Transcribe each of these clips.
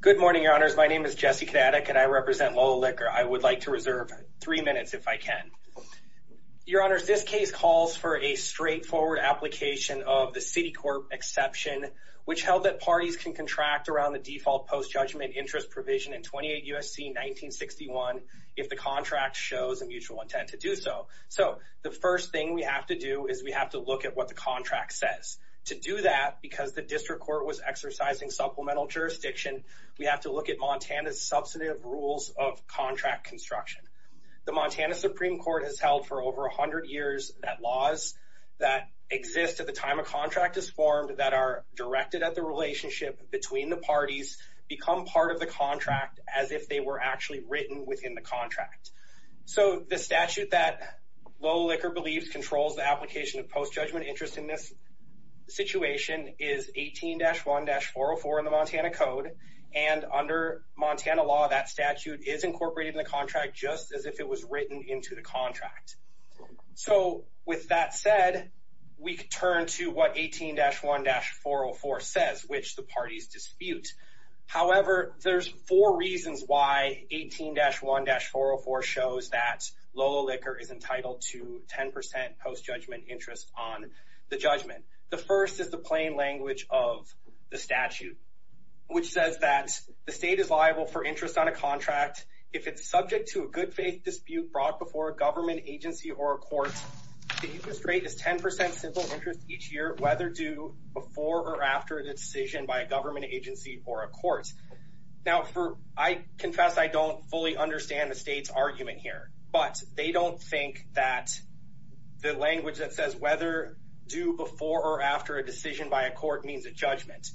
Good morning, Your Honors. My name is Jesse Kadatek, and I represent LL Liquor. I would like to reserve three minutes, if I can. Your Honors, this case calls for a straightforward application of the Citicorp exception, which held that parties can contract around the default post-judgment interest provision in 28 U.S.C. 1961 if the contract shows a mutual intent to do so. So, the first thing we have to do is we have to look at what the contract says. To do that, because the District Court was exercising supplemental jurisdiction, we have to look at Montana's substantive rules of contract construction. The Montana Supreme Court has held for over 100 years that laws that exist at the time a contract is formed that are directed at the relationship between the parties become part of the contract as if they were actually written within the contract. So, the statute that LL Liquor believes controls the application of 18-1-404 in the Montana Code, and under Montana law, that statute is incorporated in the contract just as if it was written into the contract. So, with that said, we turn to what 18-1-404 says, which the parties dispute. However, there's four reasons why 18-1-404 shows that LL Liquor is the statute, which says that the state is liable for interest on a contract if it's subject to a good-faith dispute brought before a government agency or a court. The interest rate is 10% simple interest each year, whether due before or after a decision by a government agency or a court. Now, I confess I don't fully understand the state's argument here, but they don't think that the language that says whether due before or after a decision by a court means a judgment.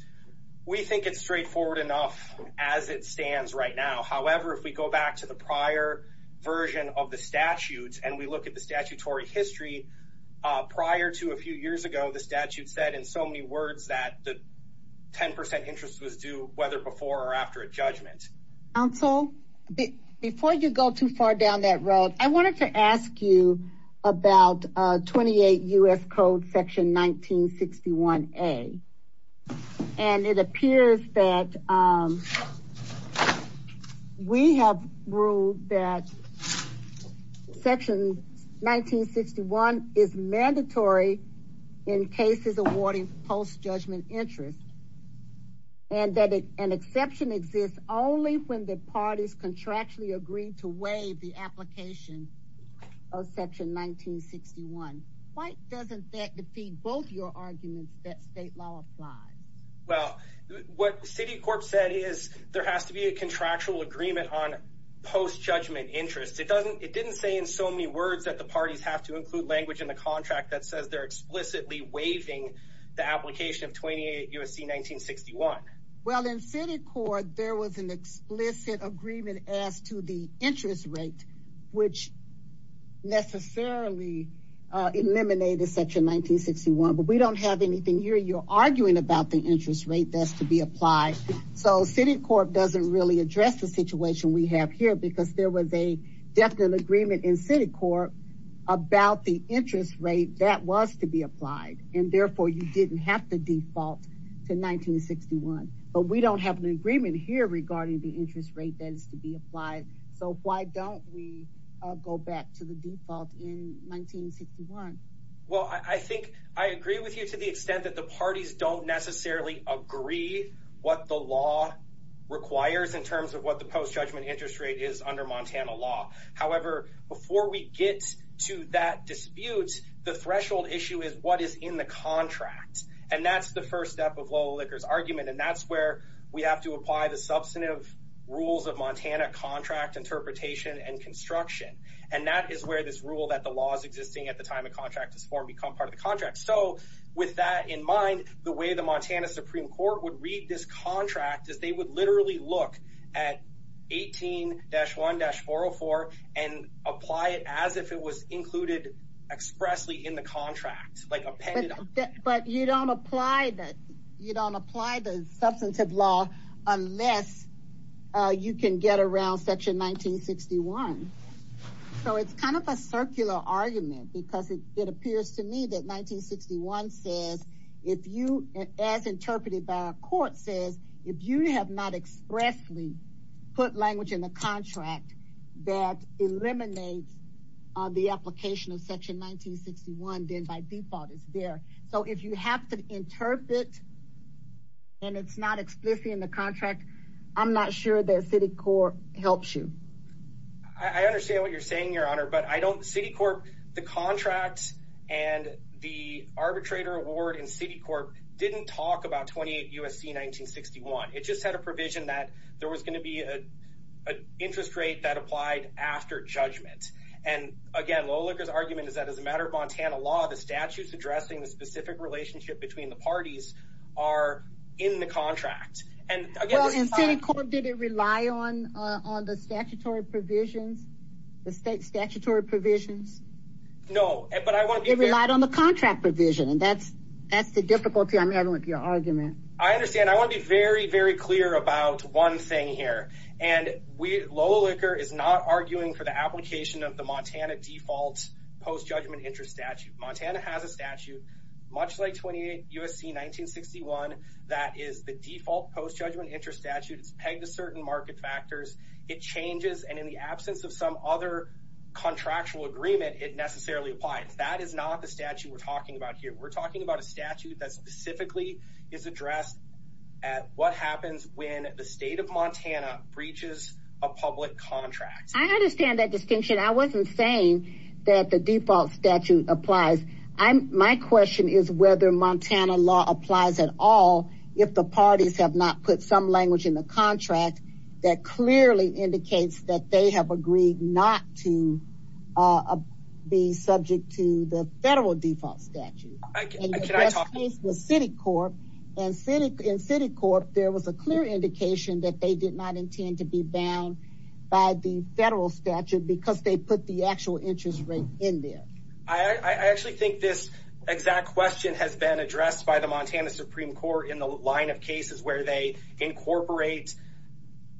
We think it's straightforward enough as it stands right now. However, if we go back to the prior version of the statutes and we look at the statutory history, prior to a few years ago, the statute said in so many words that the 10% interest was due whether before or after a judgment. I wanted to ask you about 28 U.S. Code section 1961A, and it appears that we have ruled that section 1961 is mandatory in cases awarding post-judgment interest and that an exception exists only when the parties contractually agree to waive the application of section 1961. Why doesn't that defeat both your arguments that state law applies? Well, what Citicorp said is there has to be a contractual agreement on post-judgment interest. It didn't say in so many words that the parties have to include language in the contract that says they're explicitly waiving the application of 28 U.S.C. 1961. Well, in Citicorp, there was an explicit agreement as to the interest rate, which necessarily eliminated section 1961, but we don't have anything here. You're arguing about the interest rate that's to be applied, so Citicorp doesn't really address the situation we have here because there was a definite agreement in Citicorp about the interest rate that was to be applied, and therefore you didn't have to default to 1961, but we don't have an agreement here regarding the interest rate that is to be applied, so why don't we go back to the default in 1961? Well, I think I agree with you to the extent that the parties don't necessarily agree what the law requires in terms of what the post-judgment interest rate is under Montana law. However, before we get to that dispute, the threshold issue is what is in the contract, and that's the first step of Lola Licker's argument, and that's where we have to apply the substantive rules of Montana contract interpretation and construction, and that is where this rule that the law is existing at the time a contract is formed become part of the contract. So with that in mind, the way the would literally look at 18-1-404 and apply it as if it was included expressly in the contract. But you don't apply the substantive law unless you can get around section 1961, so it's kind of a circular argument because it appears to me that 1961 says, as interpreted by our court, says if you have not expressly put language in the contract that eliminates the application of section 1961, then by default it's there. So if you have to interpret and it's not explicitly in the contract, I'm not sure that city court helps you. I understand what you're saying, your honor, but I don't, city court, the contracts and the USC 1961, it just had a provision that there was going to be a interest rate that applied after judgment. And again, Lola Licker's argument is that as a matter of Montana law, the statutes addressing the specific relationship between the parties are in the contract. And again, in city court, did it rely on the statutory provisions, the state statutory provisions? No, but I want to be relied on the contract provision, and that's the difficulty I'm having with your argument. I understand. I want to be very, very clear about one thing here, and Lola Licker is not arguing for the application of the Montana default post-judgment interest statute. Montana has a statute, much like 28 USC 1961, that is the default post-judgment interest statute. It's pegged to certain market factors. It changes, and in the absence of some other contractual agreement, it necessarily applies. That is not the statute we're talking about here. We're talking about a statute that specifically is addressed at what happens when the state of Montana breaches a public contract. I understand that distinction. I wasn't saying that the default statute applies. My question is whether Montana law applies at all if the parties have not put some language in the contract that clearly indicates that they have agreed not to be subject to the federal default statute. Can I talk? The best case was city court, and in city court, there was a clear indication that they did not intend to be bound by the federal statute because they put the actual interest rate in there. I actually think this exact question has been addressed by the Montana Supreme Court in the line of cases where they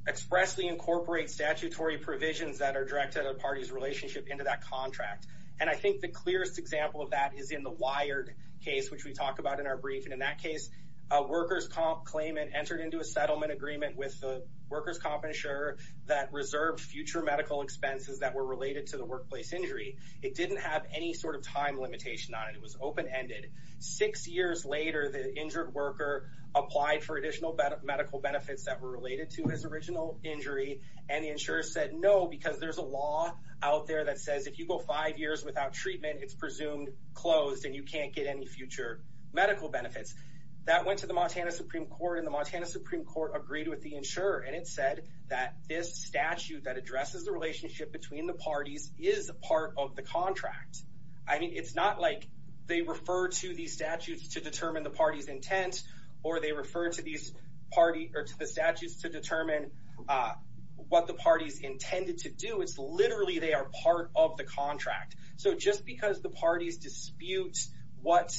expressly incorporate statutory provisions that are directed at a party's relationship into that contract. I think the clearest example of that is in the WIRED case, which we talk about in our brief. In that case, a workers comp claimant entered into a settlement agreement with the workers comp insurer that reserved future medical expenses that were related to the workplace injury. It didn't have any sort of time limitation on it. It was open-ended. Six years later, the injured worker applied for additional medical benefits that were related to his original injury, and the insurer said no because there's a law out there that says if you go five years without treatment, it's presumed closed and you can't get any future medical benefits. That went to the Montana Supreme Court, and the Montana Supreme Court agreed with the insurer, and it said that this statute that addresses the relationship between the parties is part of the contract. I mean, it's not like they refer to these statutes to determine the party's intent, or they refer to the statutes to determine what the party's intended to do. It's literally they are part of the contract. So just because the parties dispute what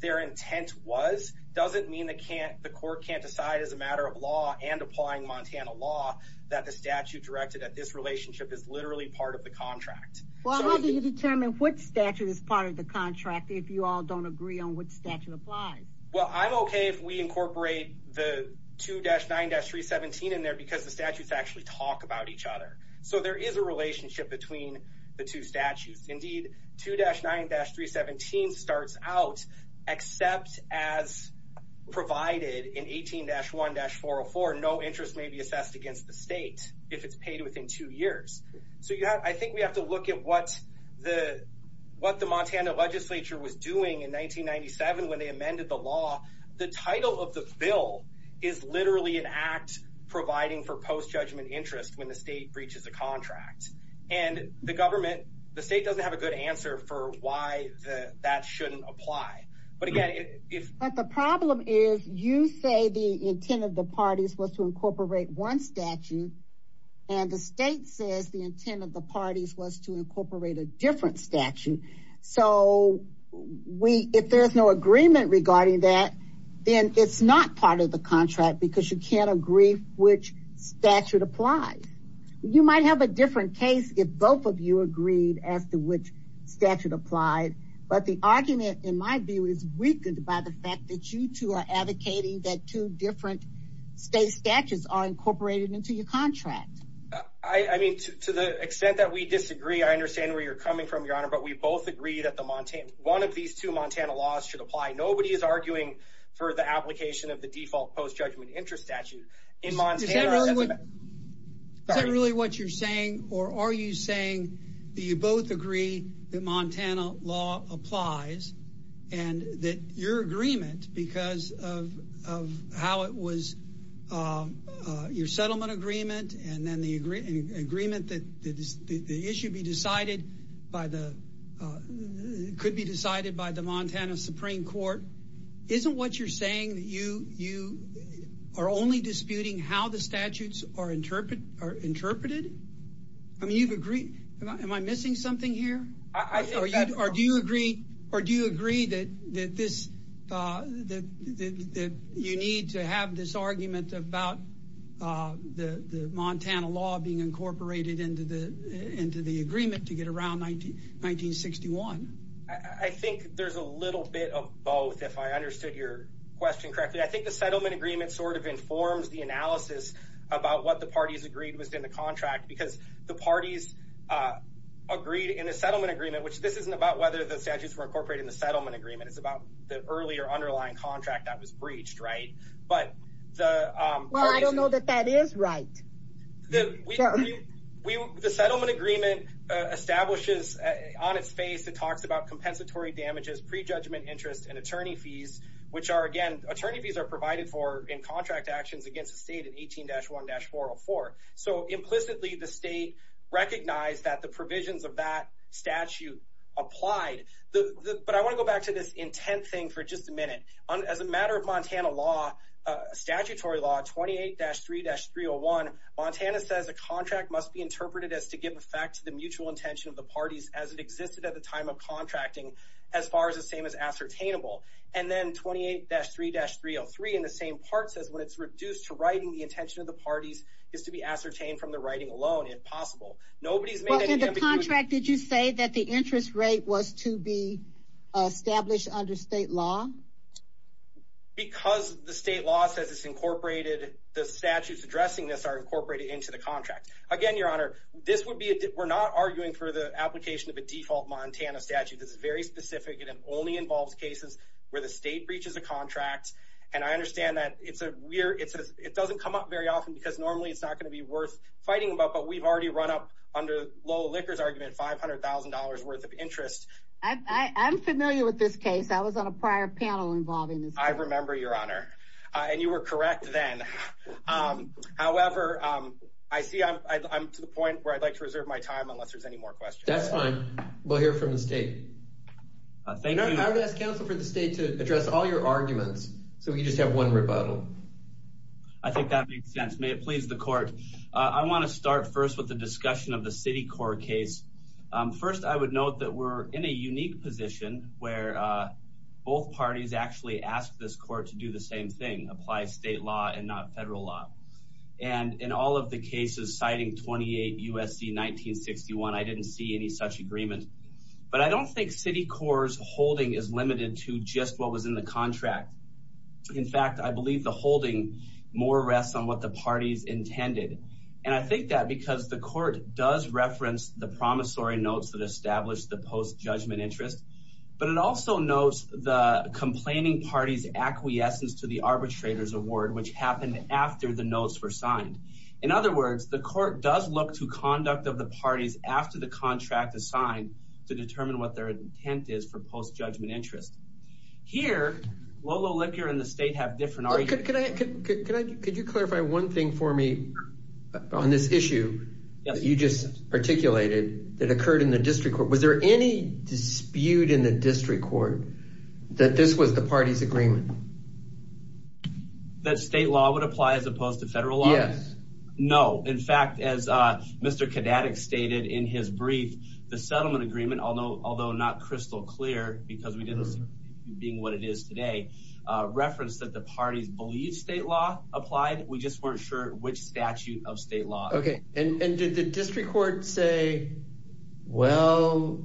their intent was doesn't mean the court can't decide as a matter of law and applying Montana law that the statute directed at this relationship is literally part of the contract. Well, how do you determine what statute is part of the contract if you all don't agree on what statute applies? Well, I'm okay if we incorporate the 2-9-317 in there because the statutes actually talk about each other. So there is a relationship between the two statutes. Indeed, 2-9-317 starts out, except as provided in 18-1-404, no interest may be assessed against the state if it's paid within two years. So I think we have to look at what the Montana legislature was doing in 1997 when they amended the law. The title of the bill is literally an act providing for post-judgment interest when the state breaches a contract, and the state doesn't have a good answer for why that shouldn't apply. But the problem is you say the intent of the parties was to incorporate one statute, and the state says the intent of the parties was to incorporate a different statute. So if there's no agreement regarding that, then it's not part of the contract because you can't agree which statute applies. You might have a different case if both of you agreed as to which statute applied, but the argument, in my view, is weakened by the fact that you two are advocating that two different state statutes are incorporated into your contract. I mean, to the extent that we disagree, I understand where you're coming from, Your Honor, but we both agree that one of these two Montana laws should apply. Nobody is arguing for the application of the default post-judgment interest statute. Is that really what you're saying, or are you saying that you both agree that Montana law applies, and that your agreement because of how it was, your settlement agreement, and then the agreement that the issue be decided by the, could be decided by the Montana Supreme Court, isn't what you're saying that you are only disputing how the statutes are interpreted? I mean, you've agreed, am I missing something here? Or do you agree that you need to have this argument about the Montana law being incorporated into the agreement to get around 1961? I think there's a little bit of both, if I understood your question correctly. I think the settlement agreement sort of informs the analysis about what the parties agreed was in the contract, because the parties agreed in a settlement agreement, which this isn't about whether the statutes were incorporated in the settlement agreement. It's about the earlier underlying contract that was breached, right? Well, I don't know that that is right. The settlement agreement establishes on its face, it talks about compensatory damages, prejudgment interest, and attorney fees, which are, again, attorney fees are provided for in contract actions against the state in 18-1-404. So implicitly, the state recognized that the provisions of that statute applied. But I want to go back to this intent thing for just a minute. As a matter of Montana law, statutory law, 28-3-301, Montana says a contract must be interpreted as to give effect to the mutual intention of the parties as it existed at the time of contracting, as far as the same as ascertainable. And then 28-3-303 in the same part says when it's reduced to writing, the intention of the parties is to be ascertained from the writing alone, if possible. Nobody's made any... In the contract, did you say that the interest rate was to be established under state law? Because the state law says it's incorporated, the statutes addressing this are incorporated into the contract. Again, Your Honor, this would be... We're not arguing for the application of a default Montana statute. This is very specific. It only involves cases where the state breaches a contract. And I understand that it's a weird... It doesn't come up very often because normally it's not going to be worth fighting about, but we've already run up under Lola Licker's argument, $500,000 worth of interest. I'm familiar with this case. I was on a prior panel involving this. I remember, Your Honor, and you were correct then. However, I see I'm to the point where I'd like to reserve my time unless there's any more questions. That's fine. We'll hear from the state. Thank you. I would ask counsel for the state to address all your arguments so we just have one rebuttal. I think that makes sense. May it please the court. I want to start first with the discussion of the Citicorp case. First, I would note that we're in a unique position where both parties actually asked this court to do the same thing, apply state law and not federal law. And in all of the cases citing 28 U.S.C. 1961, I didn't see any such agreement. But I don't think Citicorp's holding is limited to just what was in the contract. In fact, I believe the holding more rests on what the parties intended. And I think that because the court does reference the promissory notes that established the post-judgment interest. But it also notes the complaining party's acquiescence to the arbitrator's award, which happened after the notes were signed. In other words, the court does look to conduct of the parties after the contract is signed to determine what their intent is for post-judgment interest. Here, Lolo Licker and the state have different arguments. Could you clarify one thing for me on this issue that you just articulated that occurred in the district court? Was there any dispute in the district court that this was the party's agreement? That state law would apply as opposed to federal law? Yes. No. In fact, as Mr. Kadatik stated in his brief, the settlement agreement, although not crystal clear because we didn't being what it is today, referenced that the parties believe state law applied. We just weren't sure which statute of state law. Okay. And did the district court say, well,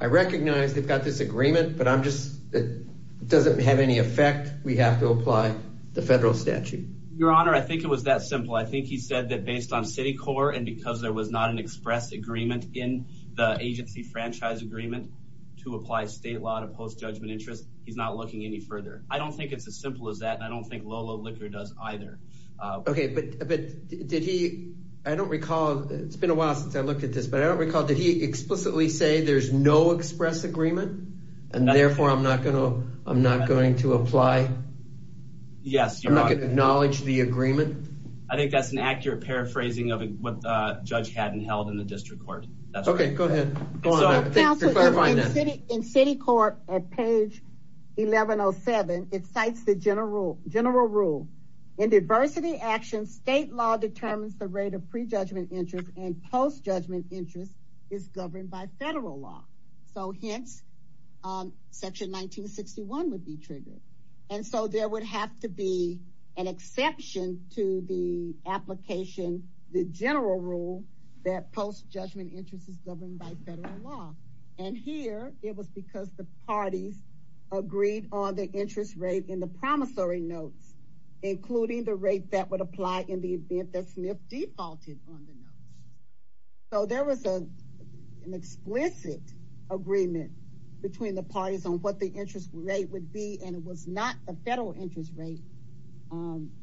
I recognize they've got this agreement, but I'm just, it doesn't have any effect. We have to apply the federal statute. Your honor. I think it was that simple. I think he said that based on Citicorp and because there was not an express agreement in the agency franchise agreement to apply state law post-judgment interest. He's not looking any further. I don't think it's as simple as that. And I don't think Lolo Licker does either. Okay. But, but did he, I don't recall, it's been a while since I looked at this, but I don't recall, did he explicitly say there's no express agreement and therefore I'm not going to, I'm not going to apply. Yes. I'm not going to acknowledge the agreement. I think that's an accurate paraphrasing of what the judge hadn't held in the district court. Okay, go ahead. In Citicorp at page 1107, it cites the general rule. In diversity action, state law determines the rate of pre-judgment interest and post-judgment interest is governed by federal law. So hence section 1961 would be triggered. And so there would have to be an exception to the application, the general rule that post-judgment interest is governed by federal law. And here it was because the parties agreed on the interest rate in the promissory notes, including the rate that would apply in the event that Smith defaulted on the notes. So there was a, an explicit agreement between the parties on what the interest rate would be. And it was not the federal interest rate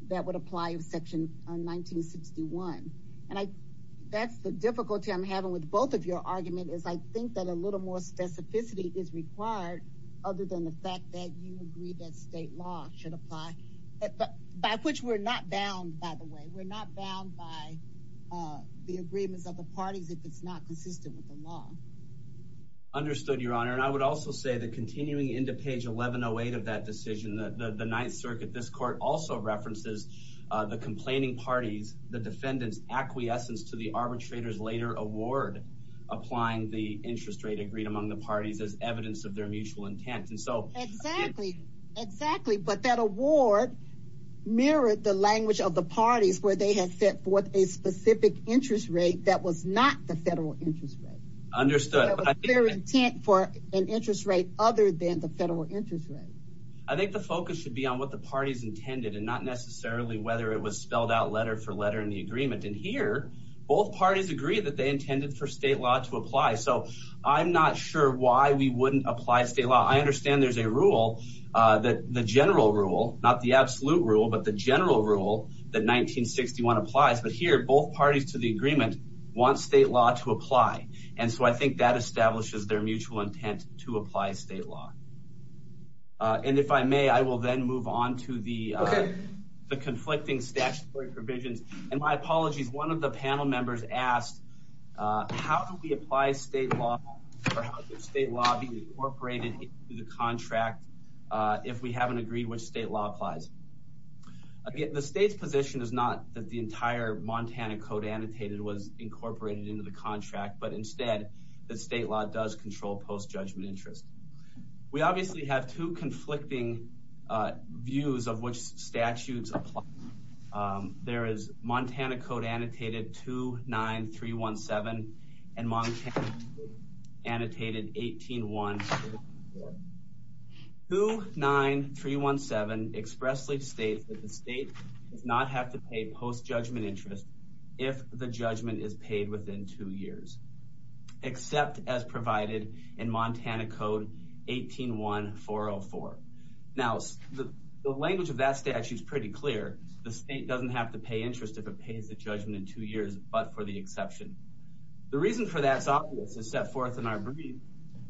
that would apply in section 1961. And I, that's the difficulty I'm having with both of your argument is I think that a little more specificity is required other than the fact that you agree that state law should apply, by which we're not bound by the way, we're not bound by the agreements of the parties, if it's not consistent with the law. Understood your honor. And I would also say that continuing into page 1108 of that decision, the ninth circuit, this court also references the complaining parties, the defendant's acquiescence to the arbitrator's later award, applying the interest rate agreed among the parties as evidence of their mutual intent. And so. Exactly, exactly. But that award mirrored the language of the parties where they had set forth a specific interest rate that was not the federal interest rate. Understood. Their intent for an interest rate other than the federal interest rate. I think the focus should be on what the parties intended and not necessarily whether it was spelled out letter for letter in the agreement. And here both parties agree that they intended for state law to apply. So I'm not sure why we wouldn't apply state law. I understand there's a rule that the general rule, not the absolute rule, but the general rule that 1961 applies. But here both parties to the agreement want state law to apply. And so I think that establishes their mutual intent to apply state law. And if I may, I will then move on to the conflicting statutory provisions. And my apologies. One of the panel members asked, how do we apply state law or state law being incorporated into the contract? If we haven't agreed which state law applies. Again, the state's position is not that the entire Montana Code annotated was incorporated into the contract, but instead the state law does control post-judgment interest. We obviously have two conflicting views of which statutes apply. There is Montana Code annotated 29317 and Montana Code annotated 18144. 29317 expressly states that the state does not have to pay post-judgment interest if the judgment is paid within two years, except as provided in Montana Code 181404. Now the language of that actually is pretty clear. The state doesn't have to pay interest if it pays the judgment in two years, but for the exception. The reason for that is obvious. It's set forth in our brief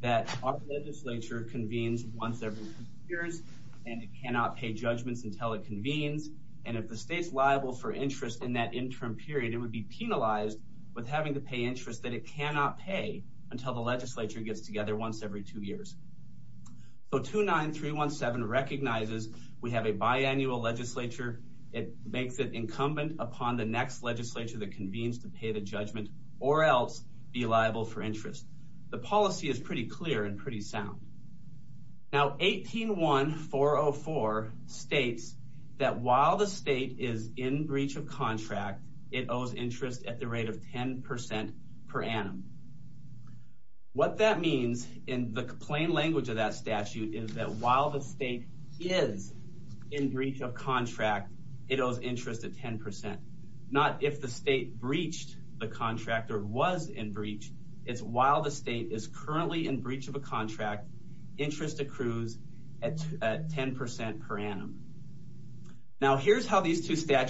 that our legislature convenes once every two years and it cannot pay judgments until it convenes. And if the state's liable for interest in that interim period, it would be penalized with having to pay interest that it cannot pay until the legislature gets together once every two years. So 29317 recognizes we have a biannual legislature. It makes it incumbent upon the next legislature that convenes to pay the judgment or else be liable for interest. The policy is pretty clear and pretty sound. Now 181404 states that while the state is in breach of contract, it owes interest at the rate of 10 percent per annum. What that means in the plain language of that statute is that while the state is in breach of contract, it owes interest at 10 percent. Not if the state breached the contract or was in breach. It's while the state is currently in breach of a contract, interest accrues at 10 percent per annum. Now here's how these two Supreme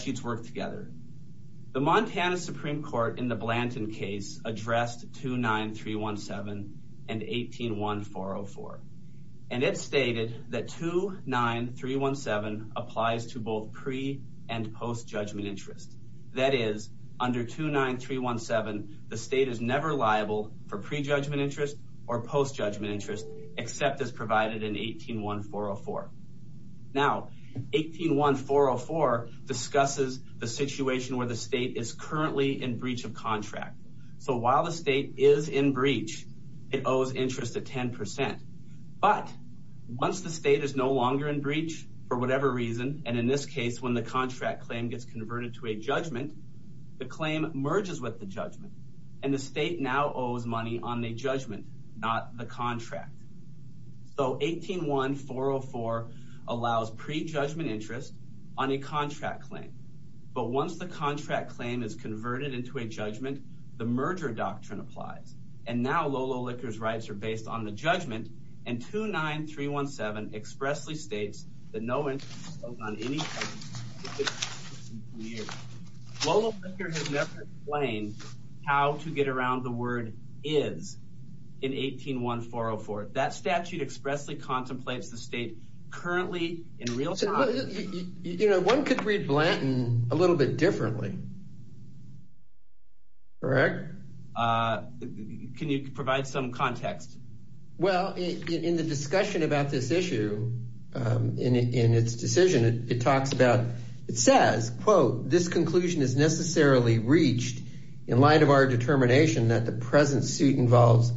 Court in the Blanton case addressed 29317 and 181404. And it stated that 29317 applies to both pre- and post-judgment interest. That is, under 29317 the state is never liable for pre-judgment interest or post-judgment interest except as provided in 181404. Now 181404 discusses the situation where the state is currently in breach of contract. So while the state is in breach, it owes interest at 10 percent. But once the state is no longer in breach, for whatever reason, and in this case when the contract claim gets converted to a judgment, the claim merges with the judgment. And the state now owes money on the judgment, not the contract. So 181404 allows pre-judgment interest on a contract claim. But once the contract claim is converted into a judgment, the merger doctrine applies. And now Lolo Licker's rights are based on the judgment. And 29317 expressly states that no interest is owed on 181404. That statute expressly contemplates the state currently in real time. One could read Blanton a little bit differently. Correct. Can you provide some context? Well, in the discussion about this issue, in its decision, it talks about, it says, quote, this conclusion is necessarily reached in light of our determination that the present suit involves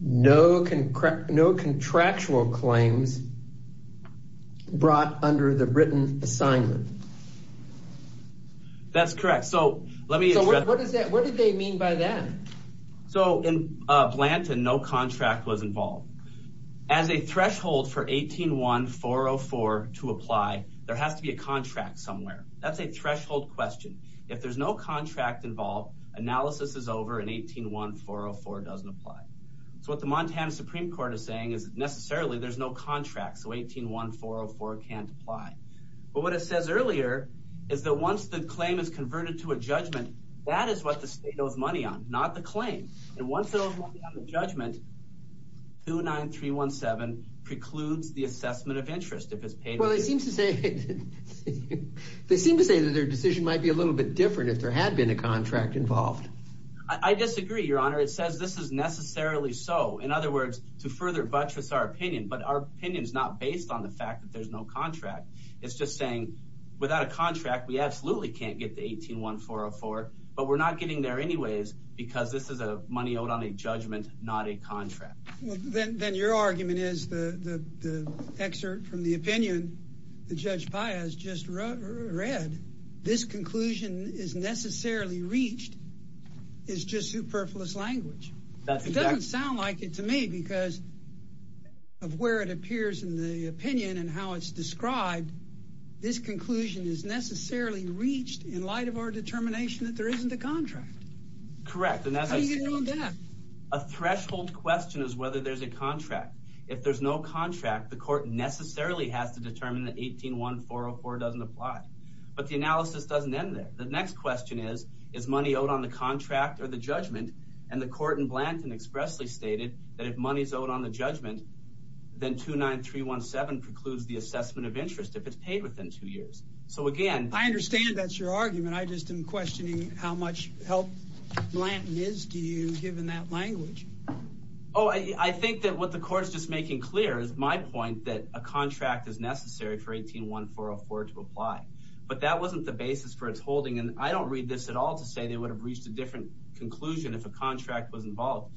no contractual claims brought under the written assignment. That's correct. So let me. What did they mean by that? So in Blanton, no contract was involved. As a threshold for 181404 to apply, there has to be a contract somewhere. That's a threshold question. If there's no contract involved, analysis is over, and 181404 doesn't apply. So what the Montana Supreme Court is saying is necessarily there's no contract. So 181404 can't apply. But what it says earlier is that once the claim is converted to a judgment, that is what the state owes money on, not the claim. And once it owes money on the judgment, 29317 precludes the assessment of interest if it's paid. Well, they seem to say that their decision might be a little bit different if there had been a contract involved. I disagree, Your Honor. It says this is necessarily so. In other words, to further buttress our opinion, but our opinion is not based on the fact that there's no contract. It's just saying without a contract, we absolutely can't get the 181404, but we're not getting there anyways because this is a money owed on a judgment, not a contract. Then your argument is the excerpt from the opinion that Judge Paya has just read. This conclusion is necessarily reached. It's just superfluous language. That doesn't sound like it to me because of where it appears in the opinion and how it's described. This conclusion is necessarily reached in light of our determination that there isn't a contract. Correct. And that's a threshold question is whether there's a contract. If there's no contract, the court necessarily has to determine that 181404 doesn't apply, but the analysis doesn't end there. The next question is, is money owed on the contract or the judgment? And the court in Blanton expressly stated that if money's owed on the judgment, then 29317 precludes the assessment of interest if it's paid within two years. So again, I understand that's your argument. I just am questioning how much help Blanton is to you given that language. Oh, I think that what the court is just making clear is my point that a contract is necessary for 181404 to apply, but that wasn't the basis for its holding. And I don't read this at all to say they would have reached a different conclusion if a contract was involved.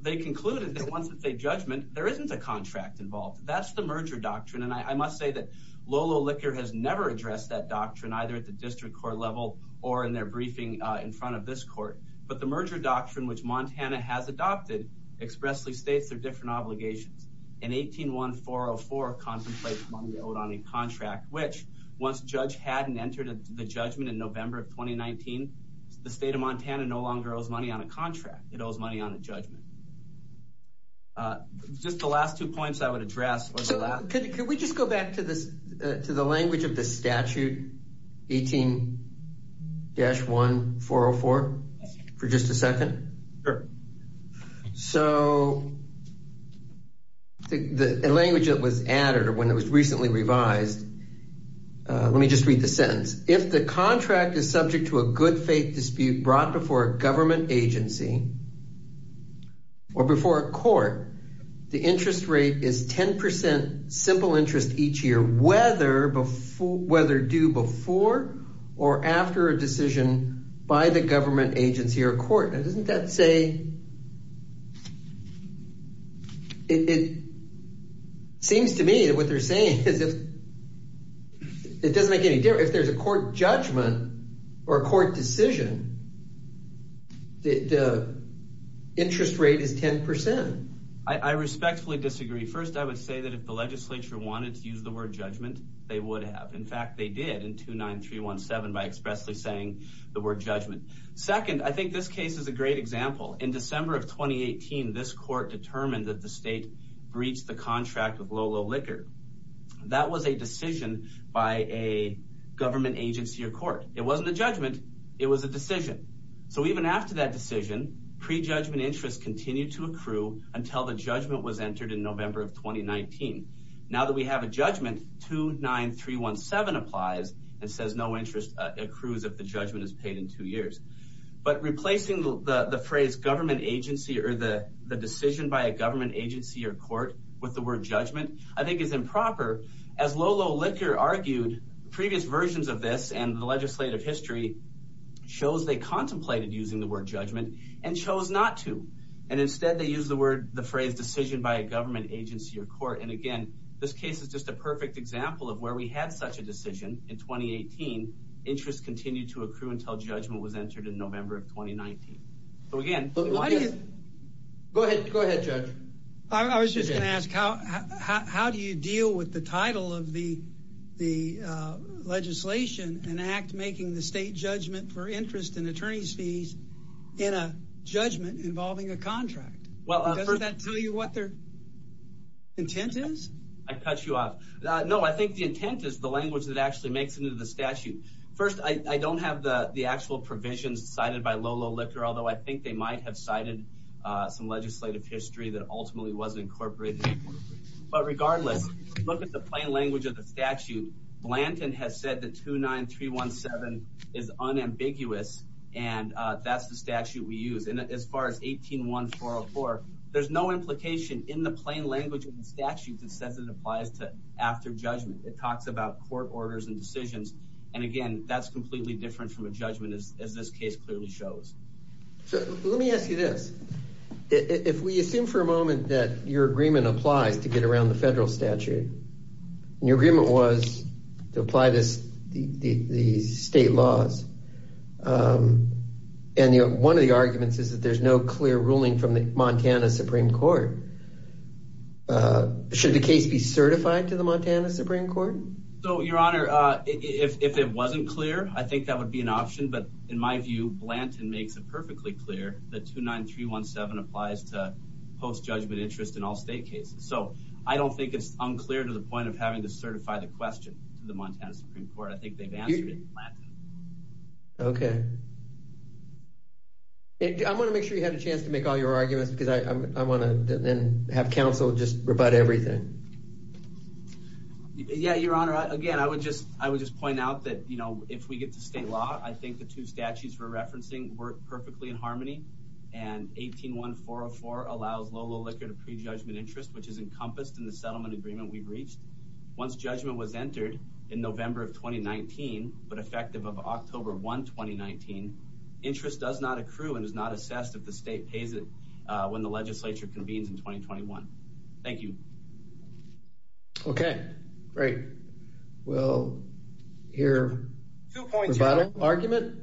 They concluded that once it's a judgment, there isn't a contract involved. That's the merger doctrine. And I must say that Lolo Liquor has never addressed that doctrine either at the district court level or in their briefing in front of this court. But the merger doctrine, which Montana has adopted, expressly states their different obligations. And 181404 contemplates money owed on a contract, which once a judge hadn't entered the judgment in November of 2019, the state of Montana no longer owes money on a contract. It owes money on a judgment. Just the last two points I would address. Could we just go back to the language of the statute 18-1404 for just a second? Sure. So the language that was added or when it was recently revised, let me just read the sentence. If the contract is subject to a good faith dispute brought before a government agency or before a court, the interest rate is 10 percent simple interest each year, whether due before or after a decision by the government agency or court. Now, doesn't that say it seems to me that what they're saying is if it doesn't make any difference. If there's a court judgment or a court decision, the interest rate is 10 percent. I respectfully disagree. First, I would say that if the legislature wanted to use the word judgment, they would have. In fact, they did in 29317 by expressly saying the word judgment. Second, I think this case is a great example. In December of 2018, this court determined that the state breached the contract with Lolo Liquor. That was a decision by a government agency or court. It wasn't a judgment. It was a decision. So even after that decision, prejudgment interest continued to accrue until the judgment was entered in November of 2019. Now that we have a judgment, 29317 applies and says no interest accrues if the judgment is paid in two years. But replacing the phrase government agency or the decision by a government agency or court with the word judgment, I think is improper. As Lolo Liquor argued, previous versions of this and the legislative history shows they contemplated using the word agency or court. And again, this case is just a perfect example of where we had such a decision in 2018. Interest continued to accrue until judgment was entered in November of 2019. So again, go ahead. Go ahead, judge. I was just going to ask how how do you deal with the title of the the legislation and act making the state judgment for interest in attorneys fees in a intent is? I cut you off. No, I think the intent is the language that actually makes it into the statute. First, I don't have the actual provisions cited by Lolo Liquor, although I think they might have cited some legislative history that ultimately wasn't incorporated. But regardless, look at the plain language of the statute. Blanton has said that 29317 is unambiguous and that's the statute we use. And as far as 18144, there's no implication in the plain language of the statute that says it applies to after judgment. It talks about court orders and decisions. And again, that's completely different from a judgment, as this case clearly shows. So let me ask you this. If we assume for a moment that your agreement applies to get around the federal statute and your agreement was to apply this, the state laws. And one of the arguments is that there's no clear ruling from the Montana Supreme Court. Should the case be certified to the Montana Supreme Court? So, your honor, if it wasn't clear, I think that would be an option. But in my view, Blanton makes it perfectly clear that 29317 applies to post-judgment interest in all state cases. So I don't think it's unclear to the point of having to certify the question to the Montana Supreme Court. I think they've answered it in Blanton. Okay. I want to make sure you had a chance to make all your arguments because I want to then have counsel just rebut everything. Yeah, your honor. Again, I would just point out that if we get to state law, I think the two statutes we're referencing work perfectly in 404 allows low-low liquor to pre-judgment interest, which is encompassed in the settlement agreement we've reached. Once judgment was entered in November of 2019, but effective of October 1, 2019, interest does not accrue and is not assessed if the state pays it when the legislature convenes in 2021. Thank you. Okay, great. We'll hear the final argument.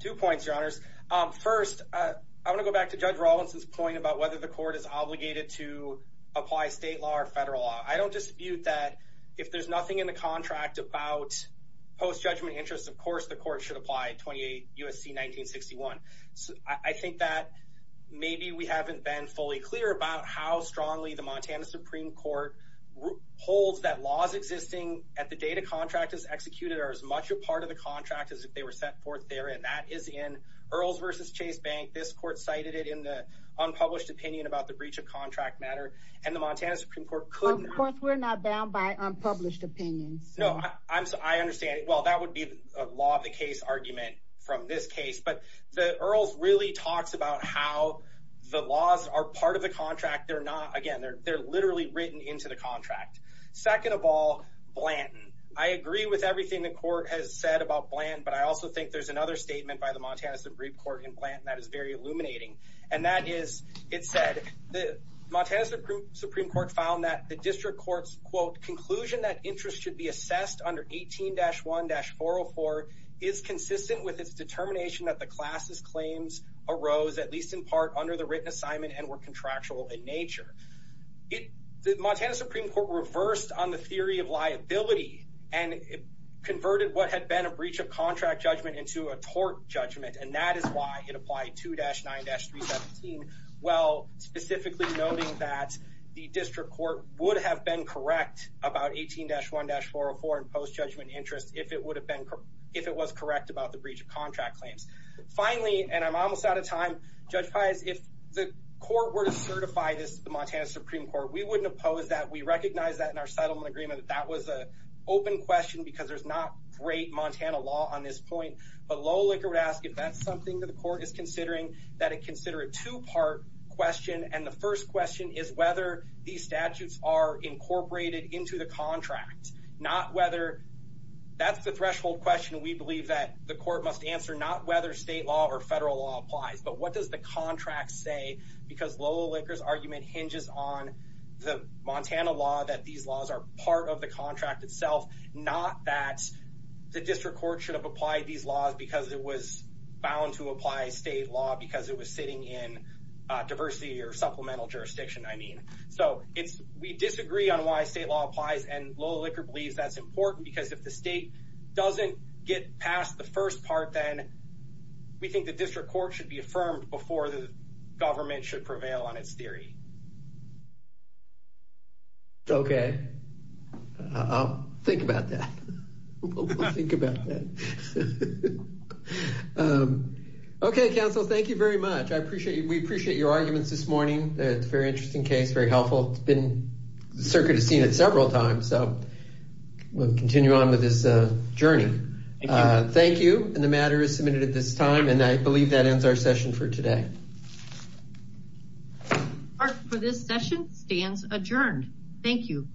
Two points, your honors. First, I want to go back to Judge Robinson's point about whether the court is obligated to apply state law or federal law. I don't dispute that if there's nothing in the contract about post-judgment interest, of course, the court should apply 28 U.S.C. 1961. I think that maybe we haven't been fully clear about how strongly the Montana Supreme Court holds that laws existing at the date a contract is executed are as much a part of the contract as if they were set forth there, and that is in Earls versus Chase Bank. This court cited it in the unpublished opinion about the breach of contract matter, and the Montana Supreme Court couldn't... Of course, we're not bound by unpublished opinions. No, I understand. Well, that would be a law of the case argument from this case, but the Earls really talks about how the laws are part of the contract. Again, they're literally written into the contract. Second of all, Blanton. I agree with everything the court has said about Blanton, but I also think there's another statement by the Montana Supreme Court in Blanton that is very illuminating, and that is, it said, the Montana Supreme Court found that the district court's, quote, conclusion that interest should be assessed under 18-1-404 is consistent with its determination that the class's claims arose, at least in part, under the written assignment and were contractual in nature. The Montana Supreme Court reversed on the theory of liability and converted what had been a breach of contract judgment into a tort judgment, and that is why it applied 2-9-317 while specifically noting that the district court would have been correct about 18-1-404 in post-judgment interest if it was correct about the breach of contract claims. Finally, and I'm almost out of time, Judge Pius, if the court were to certify this to the Montana Supreme Court, we wouldn't oppose that. We recognize that in our settlement agreement that that was an open question because there's not great Montana law on this point, but low liquor would ask if that's something that the court is considering, that it consider a two-part question, and the first question is whether these statutes are incorporated into the contract, not whether, that's the threshold question we believe that the court must answer, not whether state law or federal law applies, but what does the contract say because low liquor's argument hinges on the Montana law that these laws are part of the contract itself, not that the district court should have applied these laws because it was bound to apply state law because it was sitting in diversity or supplemental jurisdiction, I mean. So it's, we disagree on why state law applies, and low liquor believes that's important because if the state doesn't get past the first part, then we think the district court should be affirmed before the government should prevail on its theory. Okay, I'll think about that. We'll think about that. Okay, counsel, thank you very much. I appreciate, we appreciate your arguments this morning. It's a very interesting case, very helpful. It's been, the circuit has seen it several times, so we'll continue on with this journey. Thank you, and the matter is submitted at this time, and I believe that ends our session for today. For this session, stands adjourned. Thank you.